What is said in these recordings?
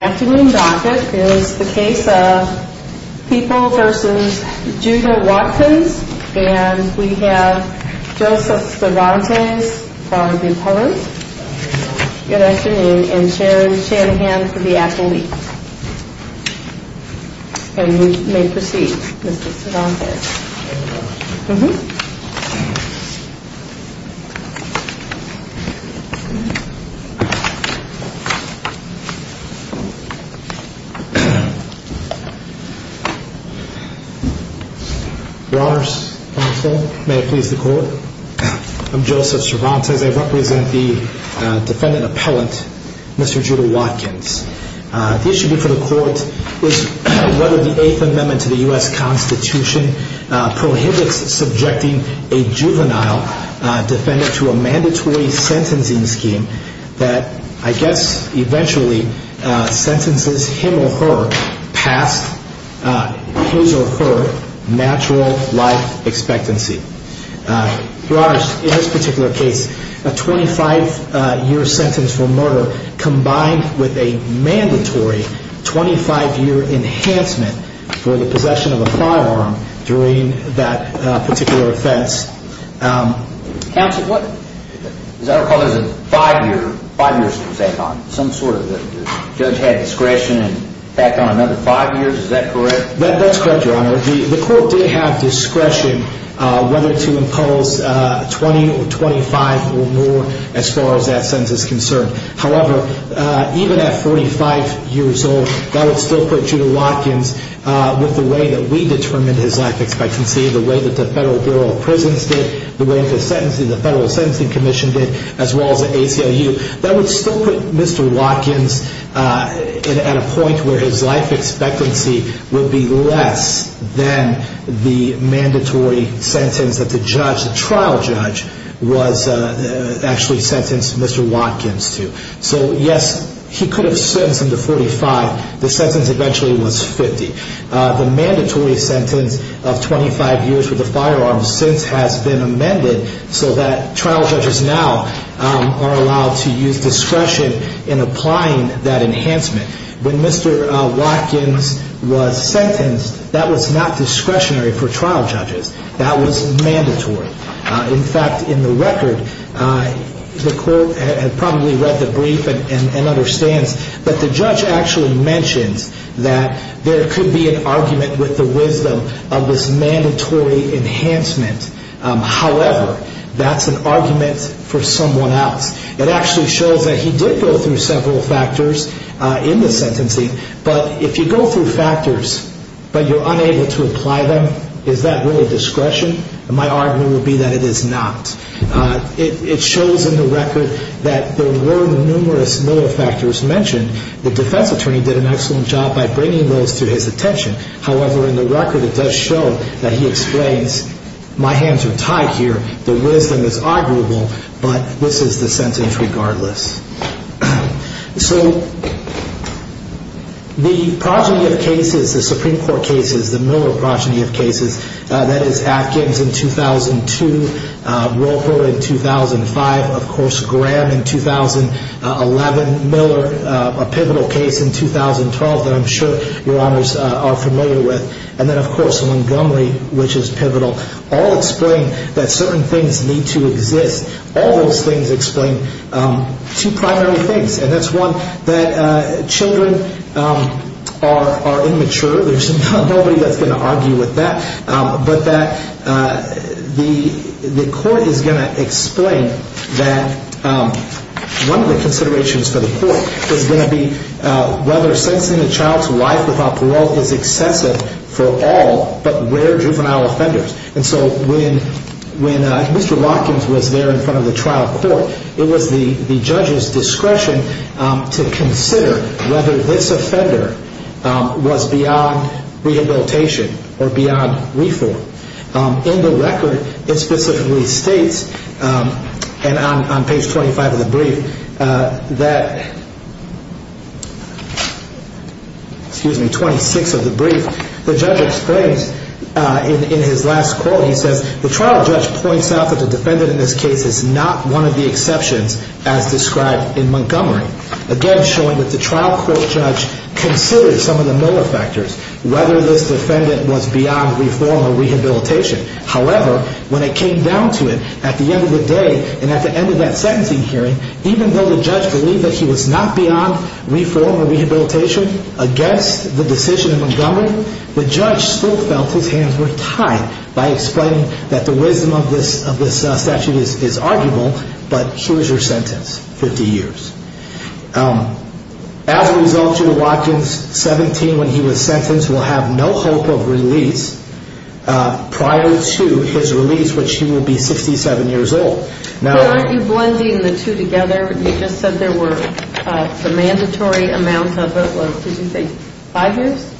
and we have Joseph Cervantes for the opponents. Good afternoon and Sharon Shanahan for the court. I'm Joseph Cervantes. I represent the defendant appellant, Mr. Judah Watkins. The issue before the court is whether the Eighth Amendment to the U.S. Constitution prohibits subjecting a juvenile defendant to a mandatory sentencing scheme that, I guess, eventually sends the defendant to jail. In this particular case, a 25-year sentence for murder combined with a mandatory 25-year enhancement for the possession of a firearm during that particular offense. The court did have discretion whether to impose 20 or 25 or more as far as that sentence is concerned. However, even at 45 years old, that would still put Judah Watkins with the way that we determined his life expectancy, the way that the Federal Bureau of Prisons determined his life expectancy. That would still put Mr. Watkins at a point where his life expectancy would be less than the mandatory sentence that the trial judge actually sentenced Mr. Watkins to. So, yes, he could have sentenced him to 45. The sentence eventually was 50. The mandatory sentence of 25 years with a firearm since has been amended so that trial judges now are allowed to use discretion in applying that enhancement. When Mr. Watkins was sentenced, that was not discretionary for trial judges. That was mandatory. In fact, in the record, the court had probably read the brief and understands that the judge actually mentions that there could be an argument with the wisdom of this mandatory enhancement. However, that's an argument for someone else. It actually shows that he did go through several factors in the sentencing, but if you go through factors but you're unable to apply them, is that really discretion? My argument would be that it is not. It shows in the record that there were numerous Miller factors mentioned. The defense attorney did an excellent job by bringing those to his attention. However, in the record, it does show that he explains, my hands are tied here, the wisdom is arguable, but this is the sentence regardless. So, the progeny of cases, the Supreme Court cases, the Miller progeny of cases, that is Atkins in 2002, Roper in 2005, of course Graham in 2011, Miller, a pivotal case in 2012 that I'm sure your honors are familiar with, and then of course Montgomery, which is pivotal, all explain that certain things need to exist. All those things explain two primary things, and that's one, that children are immature. There's nobody that's going to argue with that, but that the court is going to explain that one of the considerations for the court is going to be whether sentencing a child to life without parole is excessive for all but rare juvenile offenders. And so when Mr. Watkins was there in front of the trial court, it was the judge's discretion to consider whether this offender was beyond rehabilitation or beyond reform. In the record, it specifically states, and on page 25 of the brief, that, excuse me, 26 of the brief, the judge explains in his last quote, he says, the trial judge points out that the defendant in this case is not one of the exceptions as described in Montgomery. Again, showing that the trial court judge considered some of the Miller factors, whether this defendant was beyond reform or rehabilitation. However, when it came down to it, at the end of the day, and at the end of that sentencing hearing, even though the judge believed that he was not beyond reform or rehabilitation, against the decision of Montgomery, the judge still felt his hands were tied by explaining that the wisdom of this statute is arguable, but here's your sentence, 50 years. As a result, Judge Watkins, 17 when he was sentenced, will have no hope of release prior to his release, which he will be 67 years old. Aren't you blending the two together? You just said there was a mandatory amount of, what did you say, five years?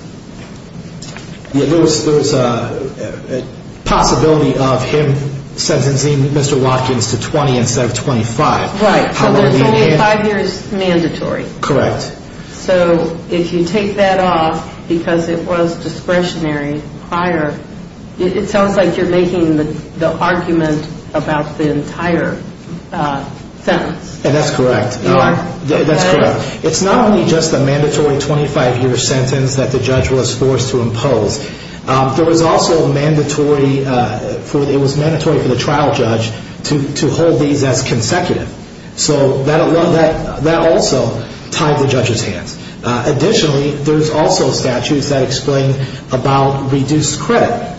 Yeah, there was a possibility of him sentencing Mr. Watkins to 20 instead of 25. Right, so there's only five years mandatory. Correct. So if you take that off, because it was discretionary prior, it sounds like you're making the argument about the entire sentence. That's correct. You are? to hold these as consecutive. So that also tied the judge's hands. Additionally, there's also statutes that explain about reduced credit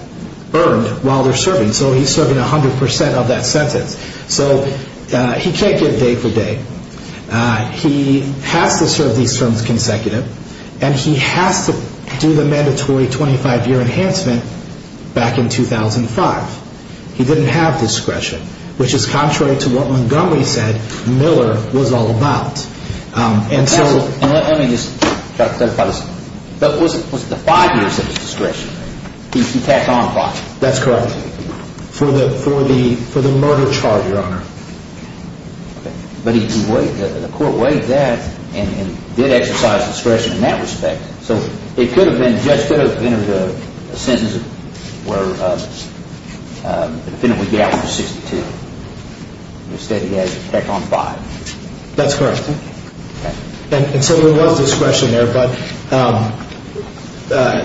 earned while they're serving. So he's serving 100% of that sentence. So he can't get day for day. He has to serve these terms consecutive, and he has to do the mandatory 25-year enhancement back in 2005. He didn't have discretion, which is contrary to what Montgomery said Miller was all about. Let me just clarify this. Was it the five years that was discretionary? He passed on five? That's correct. For the murder charge, Your Honor. But the court waived that and did exercise discretion in that respect. So it could have been, Judge Kiddo could have entered a sentence where the defendant would be out for 62. Instead, he has effect on five. That's correct. And so there was discretion there, but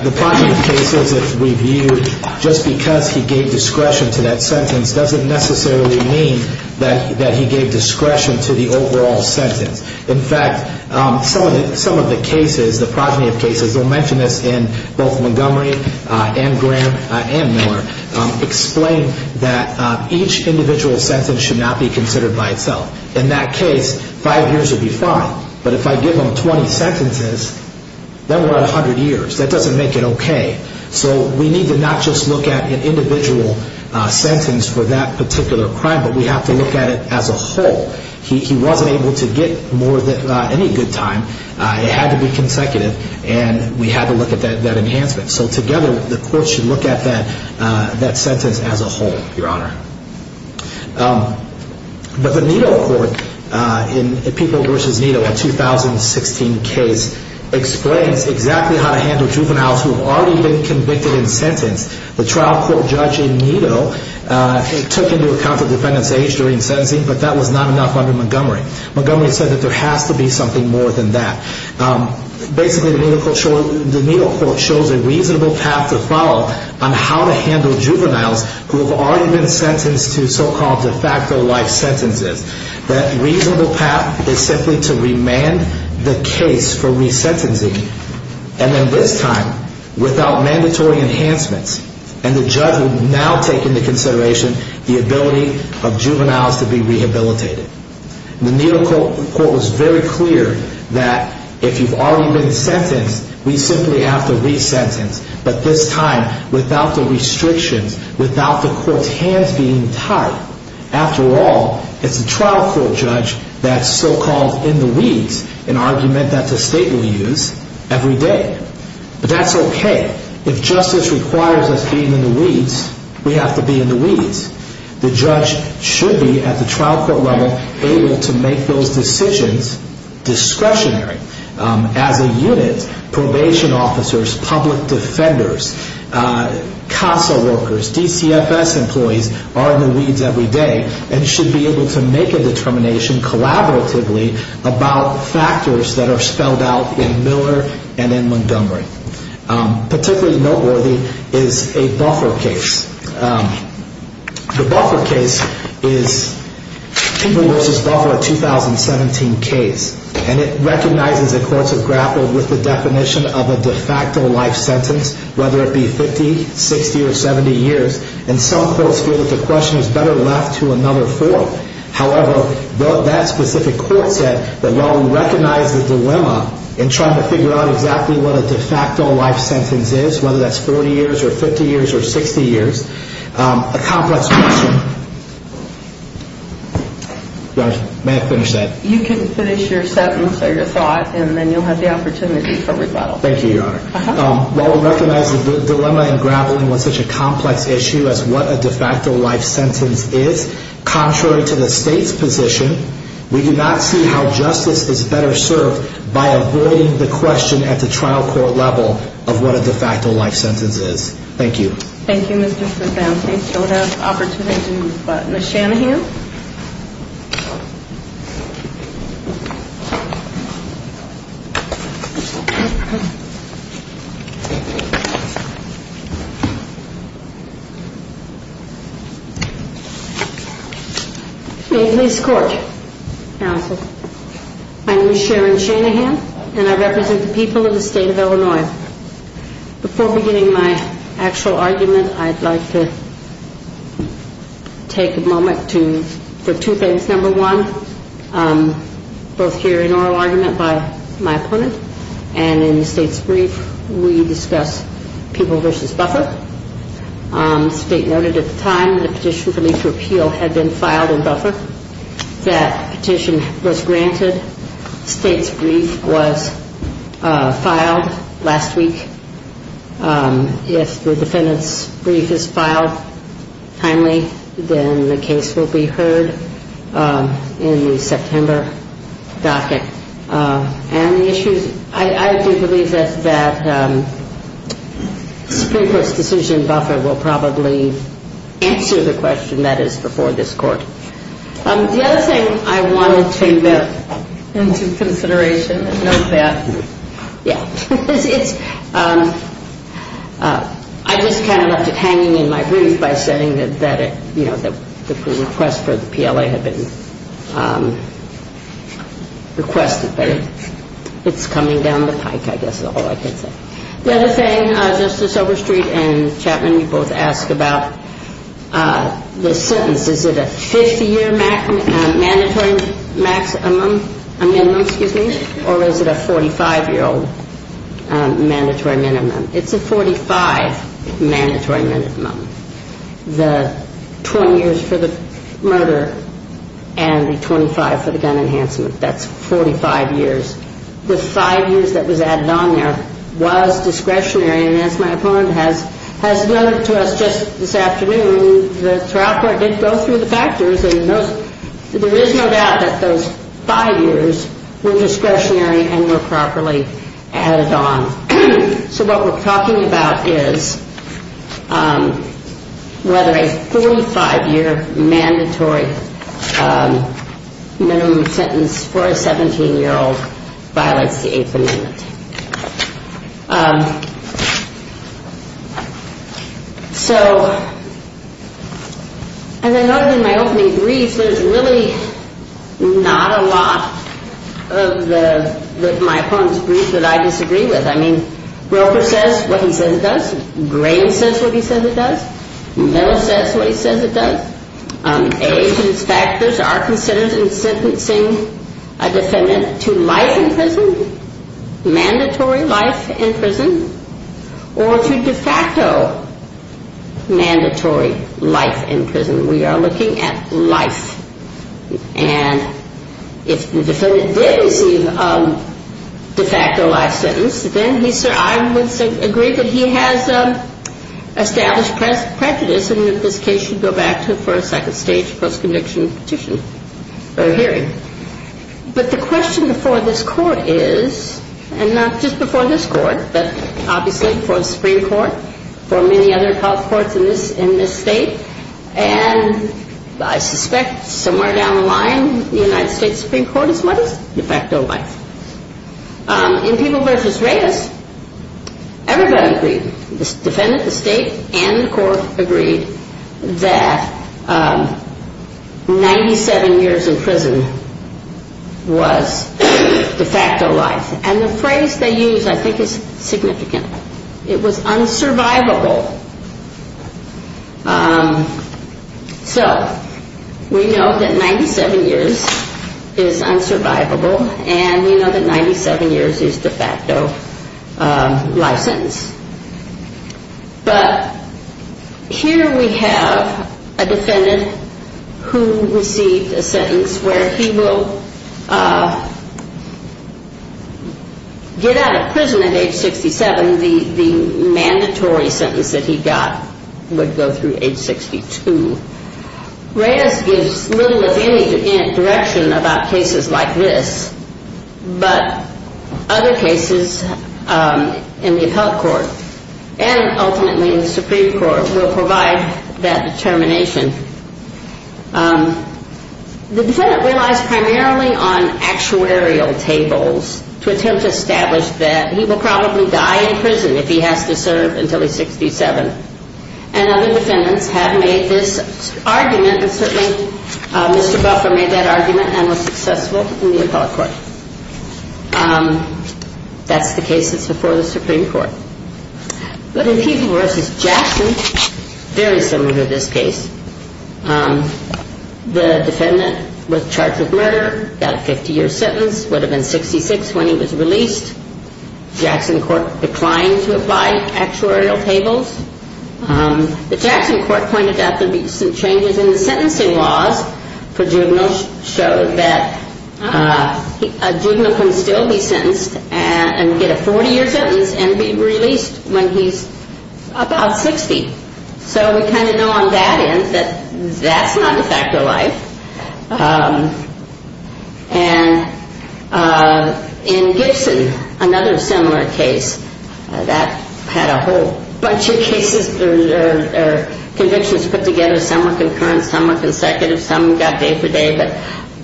the progeny of cases, if reviewed, just because he gave discretion to that sentence doesn't necessarily mean that he gave discretion to the overall sentence. In fact, some of the cases, the progeny of cases, we'll mention this in both Montgomery and Graham and Miller, explain that each individual sentence should not be considered by itself. In that case, five years would be fine, but if I give him 20 sentences, then we're at 100 years. That doesn't make it okay. So we need to not just look at an individual sentence for that particular crime, but we have to look at it as a whole. He wasn't able to get more than any good time. It had to be consecutive, and we had to look at that enhancement. So together, the court should look at that sentence as a whole, Your Honor. But the Nito court in People v. Nito, a 2016 case, explains exactly how to handle juveniles who have already been convicted and sentenced. The trial court judge in Nito took into account the defendant's age during sentencing, but that was not enough under Montgomery. Montgomery said that there has to be something more than that. Basically, the Nito court shows a reasonable path to follow on how to handle juveniles who have already been sentenced to so-called de facto life sentences. That reasonable path is simply to remand the case for resentencing, and then this time, without mandatory enhancements. And the judge would now take into consideration the ability of juveniles to be rehabilitated. The Nito court was very clear that if you've already been sentenced, we simply have to resentence, but this time, without the restrictions, without the court's hands being tied. After all, it's the trial court judge that's so-called in the weeds, an argument that the state will use every day. But that's okay. If justice requires us being in the weeds, we have to be in the weeds. The judge should be, at the trial court level, able to make those decisions discretionary. As a unit, probation officers, public defenders, CASA workers, DCFS employees are in the weeds every day and should be able to make a determination collaboratively about factors that are spelled out in Miller and in Montgomery. Particularly noteworthy is a Buffer case. The Buffer case is a 2017 case, and it recognizes that courts have grappled with the definition of a de facto life sentence, whether it be 50, 60, or 70 years. And some folks feel that the question is better left to another forum. However, that specific court said that while we recognize the dilemma in trying to figure out exactly what a de facto life sentence is, whether that's 40 years or 50 years or 60 years, a complex question... Your Honor, may I finish that? You can finish your sentence or your thought, and then you'll have the opportunity for rebuttal. Thank you, Your Honor. While we recognize the dilemma in grappling with such a complex issue as what a de facto life sentence is, contrary to the State's position, we do not see how justice is better served by avoiding the question at the trial court level of what a de facto life sentence is. Thank you. Thank you, Mr. Cervantes. You'll have the opportunity to rebut. Ms. Shanahan? May it please the Court, counsel. My name is Sharon Shanahan, and I represent the people of the State of Illinois. Before beginning my actual argument, I'd like to take a moment for two things. Number one, both here in oral argument by my opponent and in the State's brief, we discuss people versus buffer. The State noted at the time the petition for me to appeal had been filed in buffer, that petition was granted. The State's brief was filed last week. If the defendant's brief is filed timely, then the case will be heard in the September docket. And the issue is, I do believe that the Supreme Court's decision in buffer will probably answer the question that is before this Court. The other thing I wanted to take into consideration, and note that, I just kind of left it hanging in my brief by saying that the request for the PLA had been requested, but it's coming down the pike, I guess, is all I can say. The other thing, Justice Overstreet and Chapman, you both asked about this sentence. Is it a 50-year mandatory minimum, or is it a 45-year old mandatory minimum? It's a 45 mandatory minimum. The 20 years for the murder and the 25 for the gun enhancement, that's 45 years. The five years that was added on there was discretionary, and as my opponent has noted to us just this afternoon, the trial court did go through the factors, and there is no doubt that those five years were discretionary and were properly added on. So what we're talking about is whether a 45-year mandatory minimum sentence for a 17-year-old violates the Eighth Amendment. So, as I noted in my opening brief, there's really not a lot of my opponent's brief that I disagree with. I mean, Broker says what he says it does. Graves says what he says it does. Meadow says what he says it does. Age and its factors are considered in sentencing a defendant to life in prison, mandatory life in prison, or to de facto mandatory life in prison. We are looking at life. And if the defendant did receive a de facto life sentence, then I would agree that he has established precedent. And that prejudice in this case should go back to the first, second stage post-conviction petition or hearing. But the question before this Court is, and not just before this Court, but obviously before the Supreme Court, for many other health courts in this state, and I suspect somewhere down the line the United States Supreme Court is what is de facto life. In People v. Reyes, everybody agreed, the defendant, the state, and the court agreed that 97 years in prison was de facto life. And the phrase they used I think is significant. It was unsurvivable. So we know that 97 years is unsurvivable. And we know that 97 years is de facto life sentence. But here we have a defendant who received a sentence where he will get out of prison at age 67. And the mandatory sentence that he got would go through age 62. Reyes gives little, if any, direction about cases like this. But other cases in the appellate court and ultimately in the Supreme Court will provide that determination. The defendant relies primarily on actuarial tables to attempt to establish that he will probably die in prison. If he has to serve until he's 67. And other defendants have made this argument and certainly Mr. Buffer made that argument and was successful in the appellate court. That's the case that's before the Supreme Court. But in People v. Jackson, very similar to this case. The defendant was charged with murder, got a 50-year sentence, would have been 66 when he was released. Jackson court declined to apply actuarial tables. The Jackson court pointed out the recent changes in the sentencing laws for juveniles showed that a juvenile can still be sentenced and get a 40-year sentence and be released when he's about 60. So we kind of know on that end that that's not a fact of life. And in Gibson, another similar case that had a whole bunch of cases or convictions put together. Some were concurrent, some were consecutive, some got day for day. But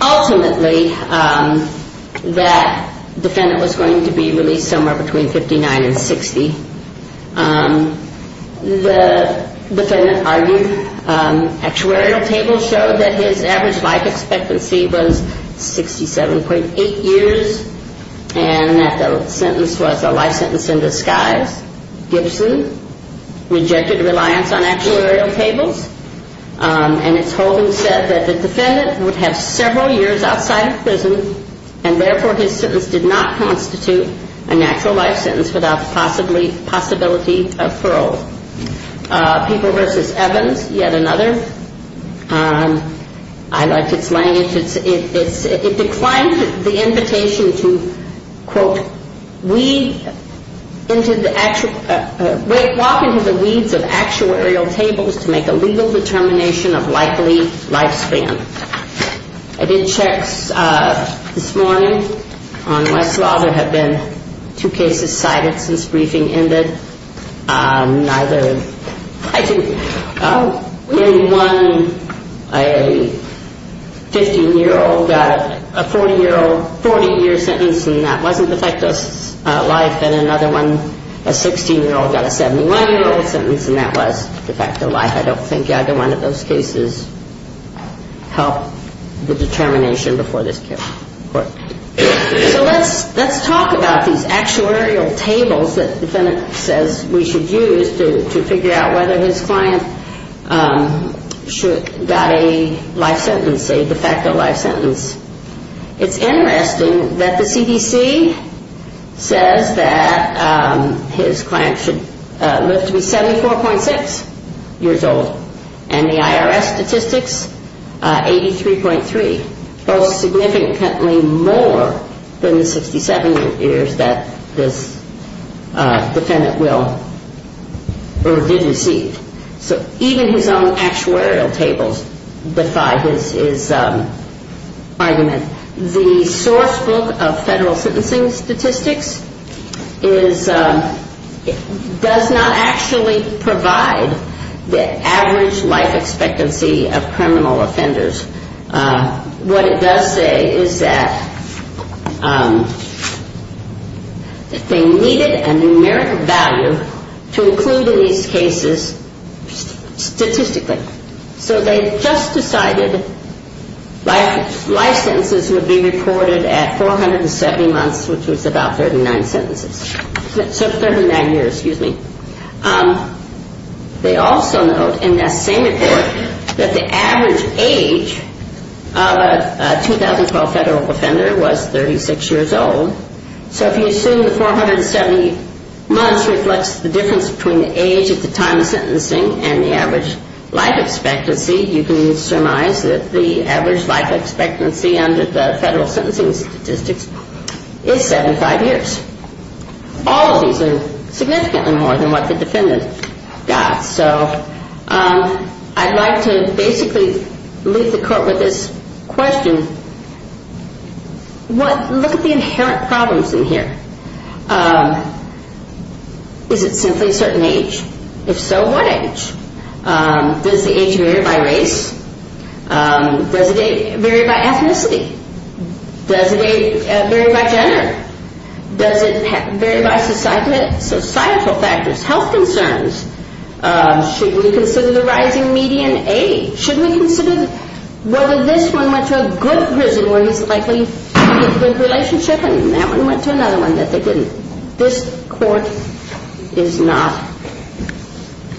ultimately that defendant was going to be released somewhere between 59 and 60. The defendant argued actuarial tables showed that his average life expectancy was 67.8 years. And that the sentence was a life sentence in disguise. Gibson rejected reliance on actuarial tables. And it's wholly said that the defendant would have several years outside of prison and therefore his sentence did not constitute a natural life sentence without the possibility of parole. People v. Evans, yet another. I liked its language. It declined the invitation to, quote, walk into the weeds of actuarial tables to make a legal determination of likely lifespan. I did checks this morning on Westlaw. There have been two cases cited since briefing ended. Neither in one, a 15-year-old got a 40-year sentence, and that wasn't the fact of life. In another one, a 16-year-old got a 71-year-old sentence, and that was the fact of life. I don't think either one of those cases helped the determination before this court. So let's talk about these actuarial tables that the defendant says we should use to figure out whether his client got a life sentence, a de facto life sentence. It's interesting that the CDC says that his client should live to be 74.6 years old, and the IRS statistics, 83.3. That's significantly more than the 67 years that this defendant will or did receive. So even his own actuarial tables defy his argument. The source book of federal sentencing statistics does not actually provide the average life expectancy of criminal offenders. What it does say is that they needed a numerical value to include in these cases statistically. So they just decided life sentences would be reported at 470 months, which was about 39 sentences. So 39 years, excuse me. They also note in that same report that the average age of a 2012 federal offender was 36 years old. So if you assume the 470 months reflects the difference between the age at the time of sentencing and the average life expectancy, you can surmise that the average life expectancy under the federal sentencing statistics is 75 years. All of these are significantly more than what the defendant got. So I'd like to basically leave the court with this question. Look at the inherent problems in here. Is it simply a certain age? If so, what age? Does the age vary by race? Does it vary by ethnicity? Does it vary by gender? Does it vary by societal factors, health concerns? Should we consider the rising median age? Should we consider whether this one went to a good prison where he's likely to have a good relationship and that one went to another one that they didn't? This court is not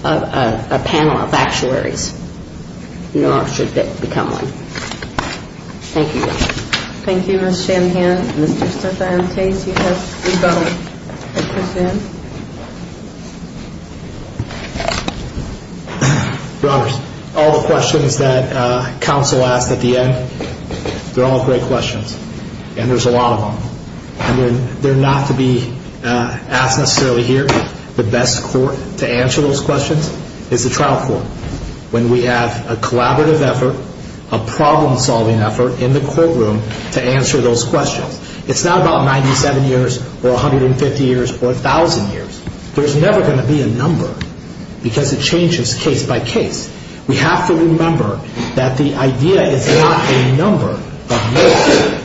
a panel of actuaries, nor should it become one. Thank you. Thank you, Ms. Shanahan. Mr. Cervantes, you have three minutes. Your Honors, all the questions that counsel asked at the end, they're all great questions. And there's a lot of them. And they're not to be asked necessarily here. The best court to answer those questions is the trial court. The best courtroom to answer those questions. It's not about 97 years or 150 years or 1,000 years. There's never going to be a number, because it changes case by case. We have to remember that the idea is not a number, but more.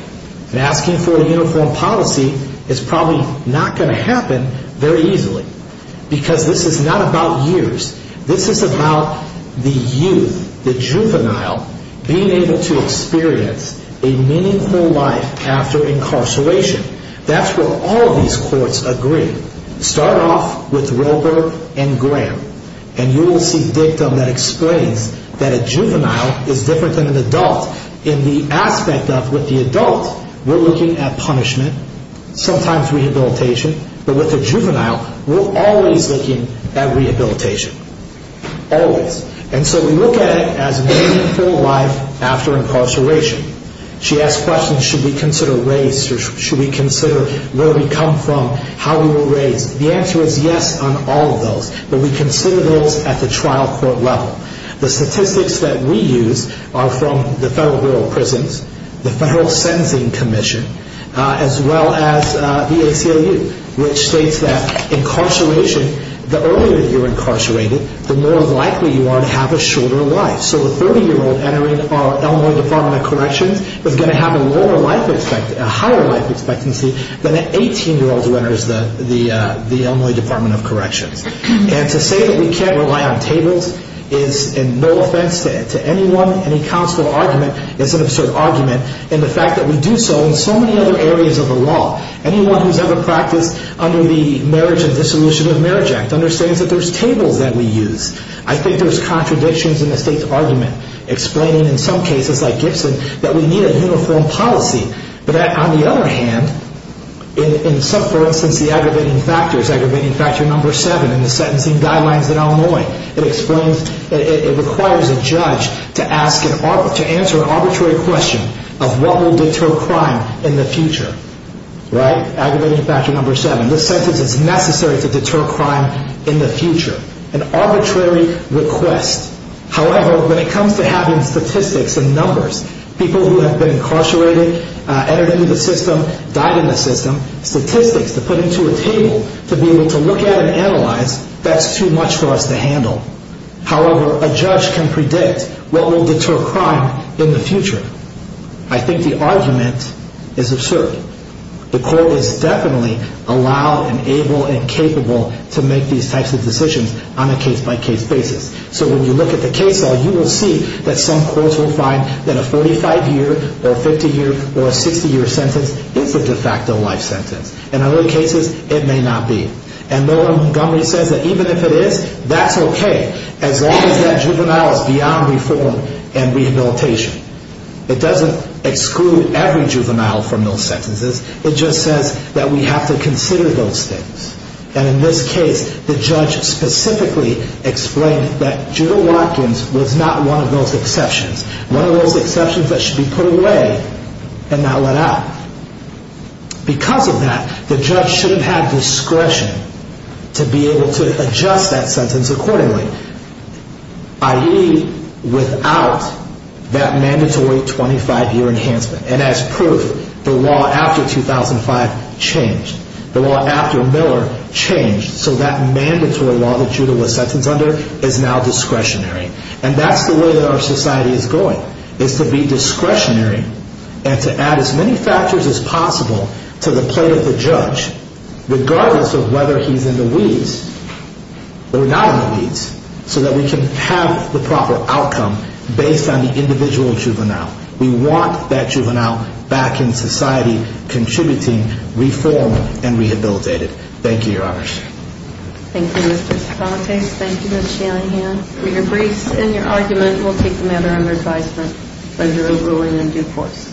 And asking for a uniform policy is probably not going to happen very easily, because this is not about years. This is about the youth, the juvenile, being able to experience a meaningful life after incarceration. That's where all of these courts agree. Start off with Roper and Graham. And you will see dictum that explains that a juvenile is different than an adult. In the aspect of with the adult, we're looking at punishment, sometimes rehabilitation. But with the juvenile, we're always looking at rehabilitation. Always. And so we look at it as meaningful life after incarceration. She asked questions, should we consider race or should we consider where we come from, how we were raised. The answer is yes on all of those. But we consider those at the trial court level. The statistics that we use are from the Federal Bureau of Prisons, the Federal Sentencing Commission, as well as the ACLU, which states that incarceration, the earlier you're incarcerated, the more likely you are to have a shorter life. So a 30-year-old entering our Illinois Department of Corrections is going to have a higher life expectancy than an 18-year-old who enters the Illinois Department of Corrections. And to say that we can't rely on tables is in no offense to anyone, any counsel or argument. It's an absurd argument in the fact that we do so in so many other areas of the law. Anyone who's ever practiced under the Marriage and Dissolution of Marriage Act understands that there's tables that we use. I think there's contradictions in the state's argument, explaining in some cases, like Gibson, that we need a uniform policy. But on the other hand, for instance, the aggravating factors, aggravating factor number seven in the sentencing guidelines in Illinois, it requires a judge to answer an arbitrary question of what will deter crime in the future. Right? Aggravating factor number seven. This sentence is necessary to deter crime in the future. An arbitrary request. However, when it comes to having statistics and numbers, people who have been incarcerated, entered into the system, died in the system, statistics to put into a table to be able to look at and analyze, that's too much for us to handle. However, a judge can predict what will deter crime in the future. I think the argument is absurd. The court is definitely allowed and able and capable to make these types of decisions on a case-by-case basis. So when you look at the case law, you will see that some courts will find that a 45-year or 50-year or 60-year sentence is a de facto life sentence. In other cases, it may not be. And lower Montgomery says that even if it is, that's okay, as long as that juvenile is beyond reform and rehabilitation. It doesn't exclude every juvenile from those sentences. It just says that we have to consider those things. And in this case, the judge specifically explained that Judah Watkins was not one of those exceptions. One of those exceptions that should be put away and not let out. Because of that, the judge shouldn't have discretion to be able to adjust that sentence accordingly. I.e., without that mandatory 25-year enhancement. And as proof, the law after 2005 changed. The law after Miller changed, so that mandatory law that Judah was sentenced under is now discretionary. And that's the way that our society is going, is to be discretionary and to add as many factors as possible to the plate of the judge, regardless of whether he's in the weeds or not in the weeds, so that we can have the proper outcome based on the individual juvenile. We want that juvenile back in society, contributing, reformed, and rehabilitated. Thank you, Your Honors. Thank you, Mr. Cervantes. Thank you, Ms. Shanahan. For your briefs and your argument, we'll take the matter under advisement. Pleasure of ruling in due course.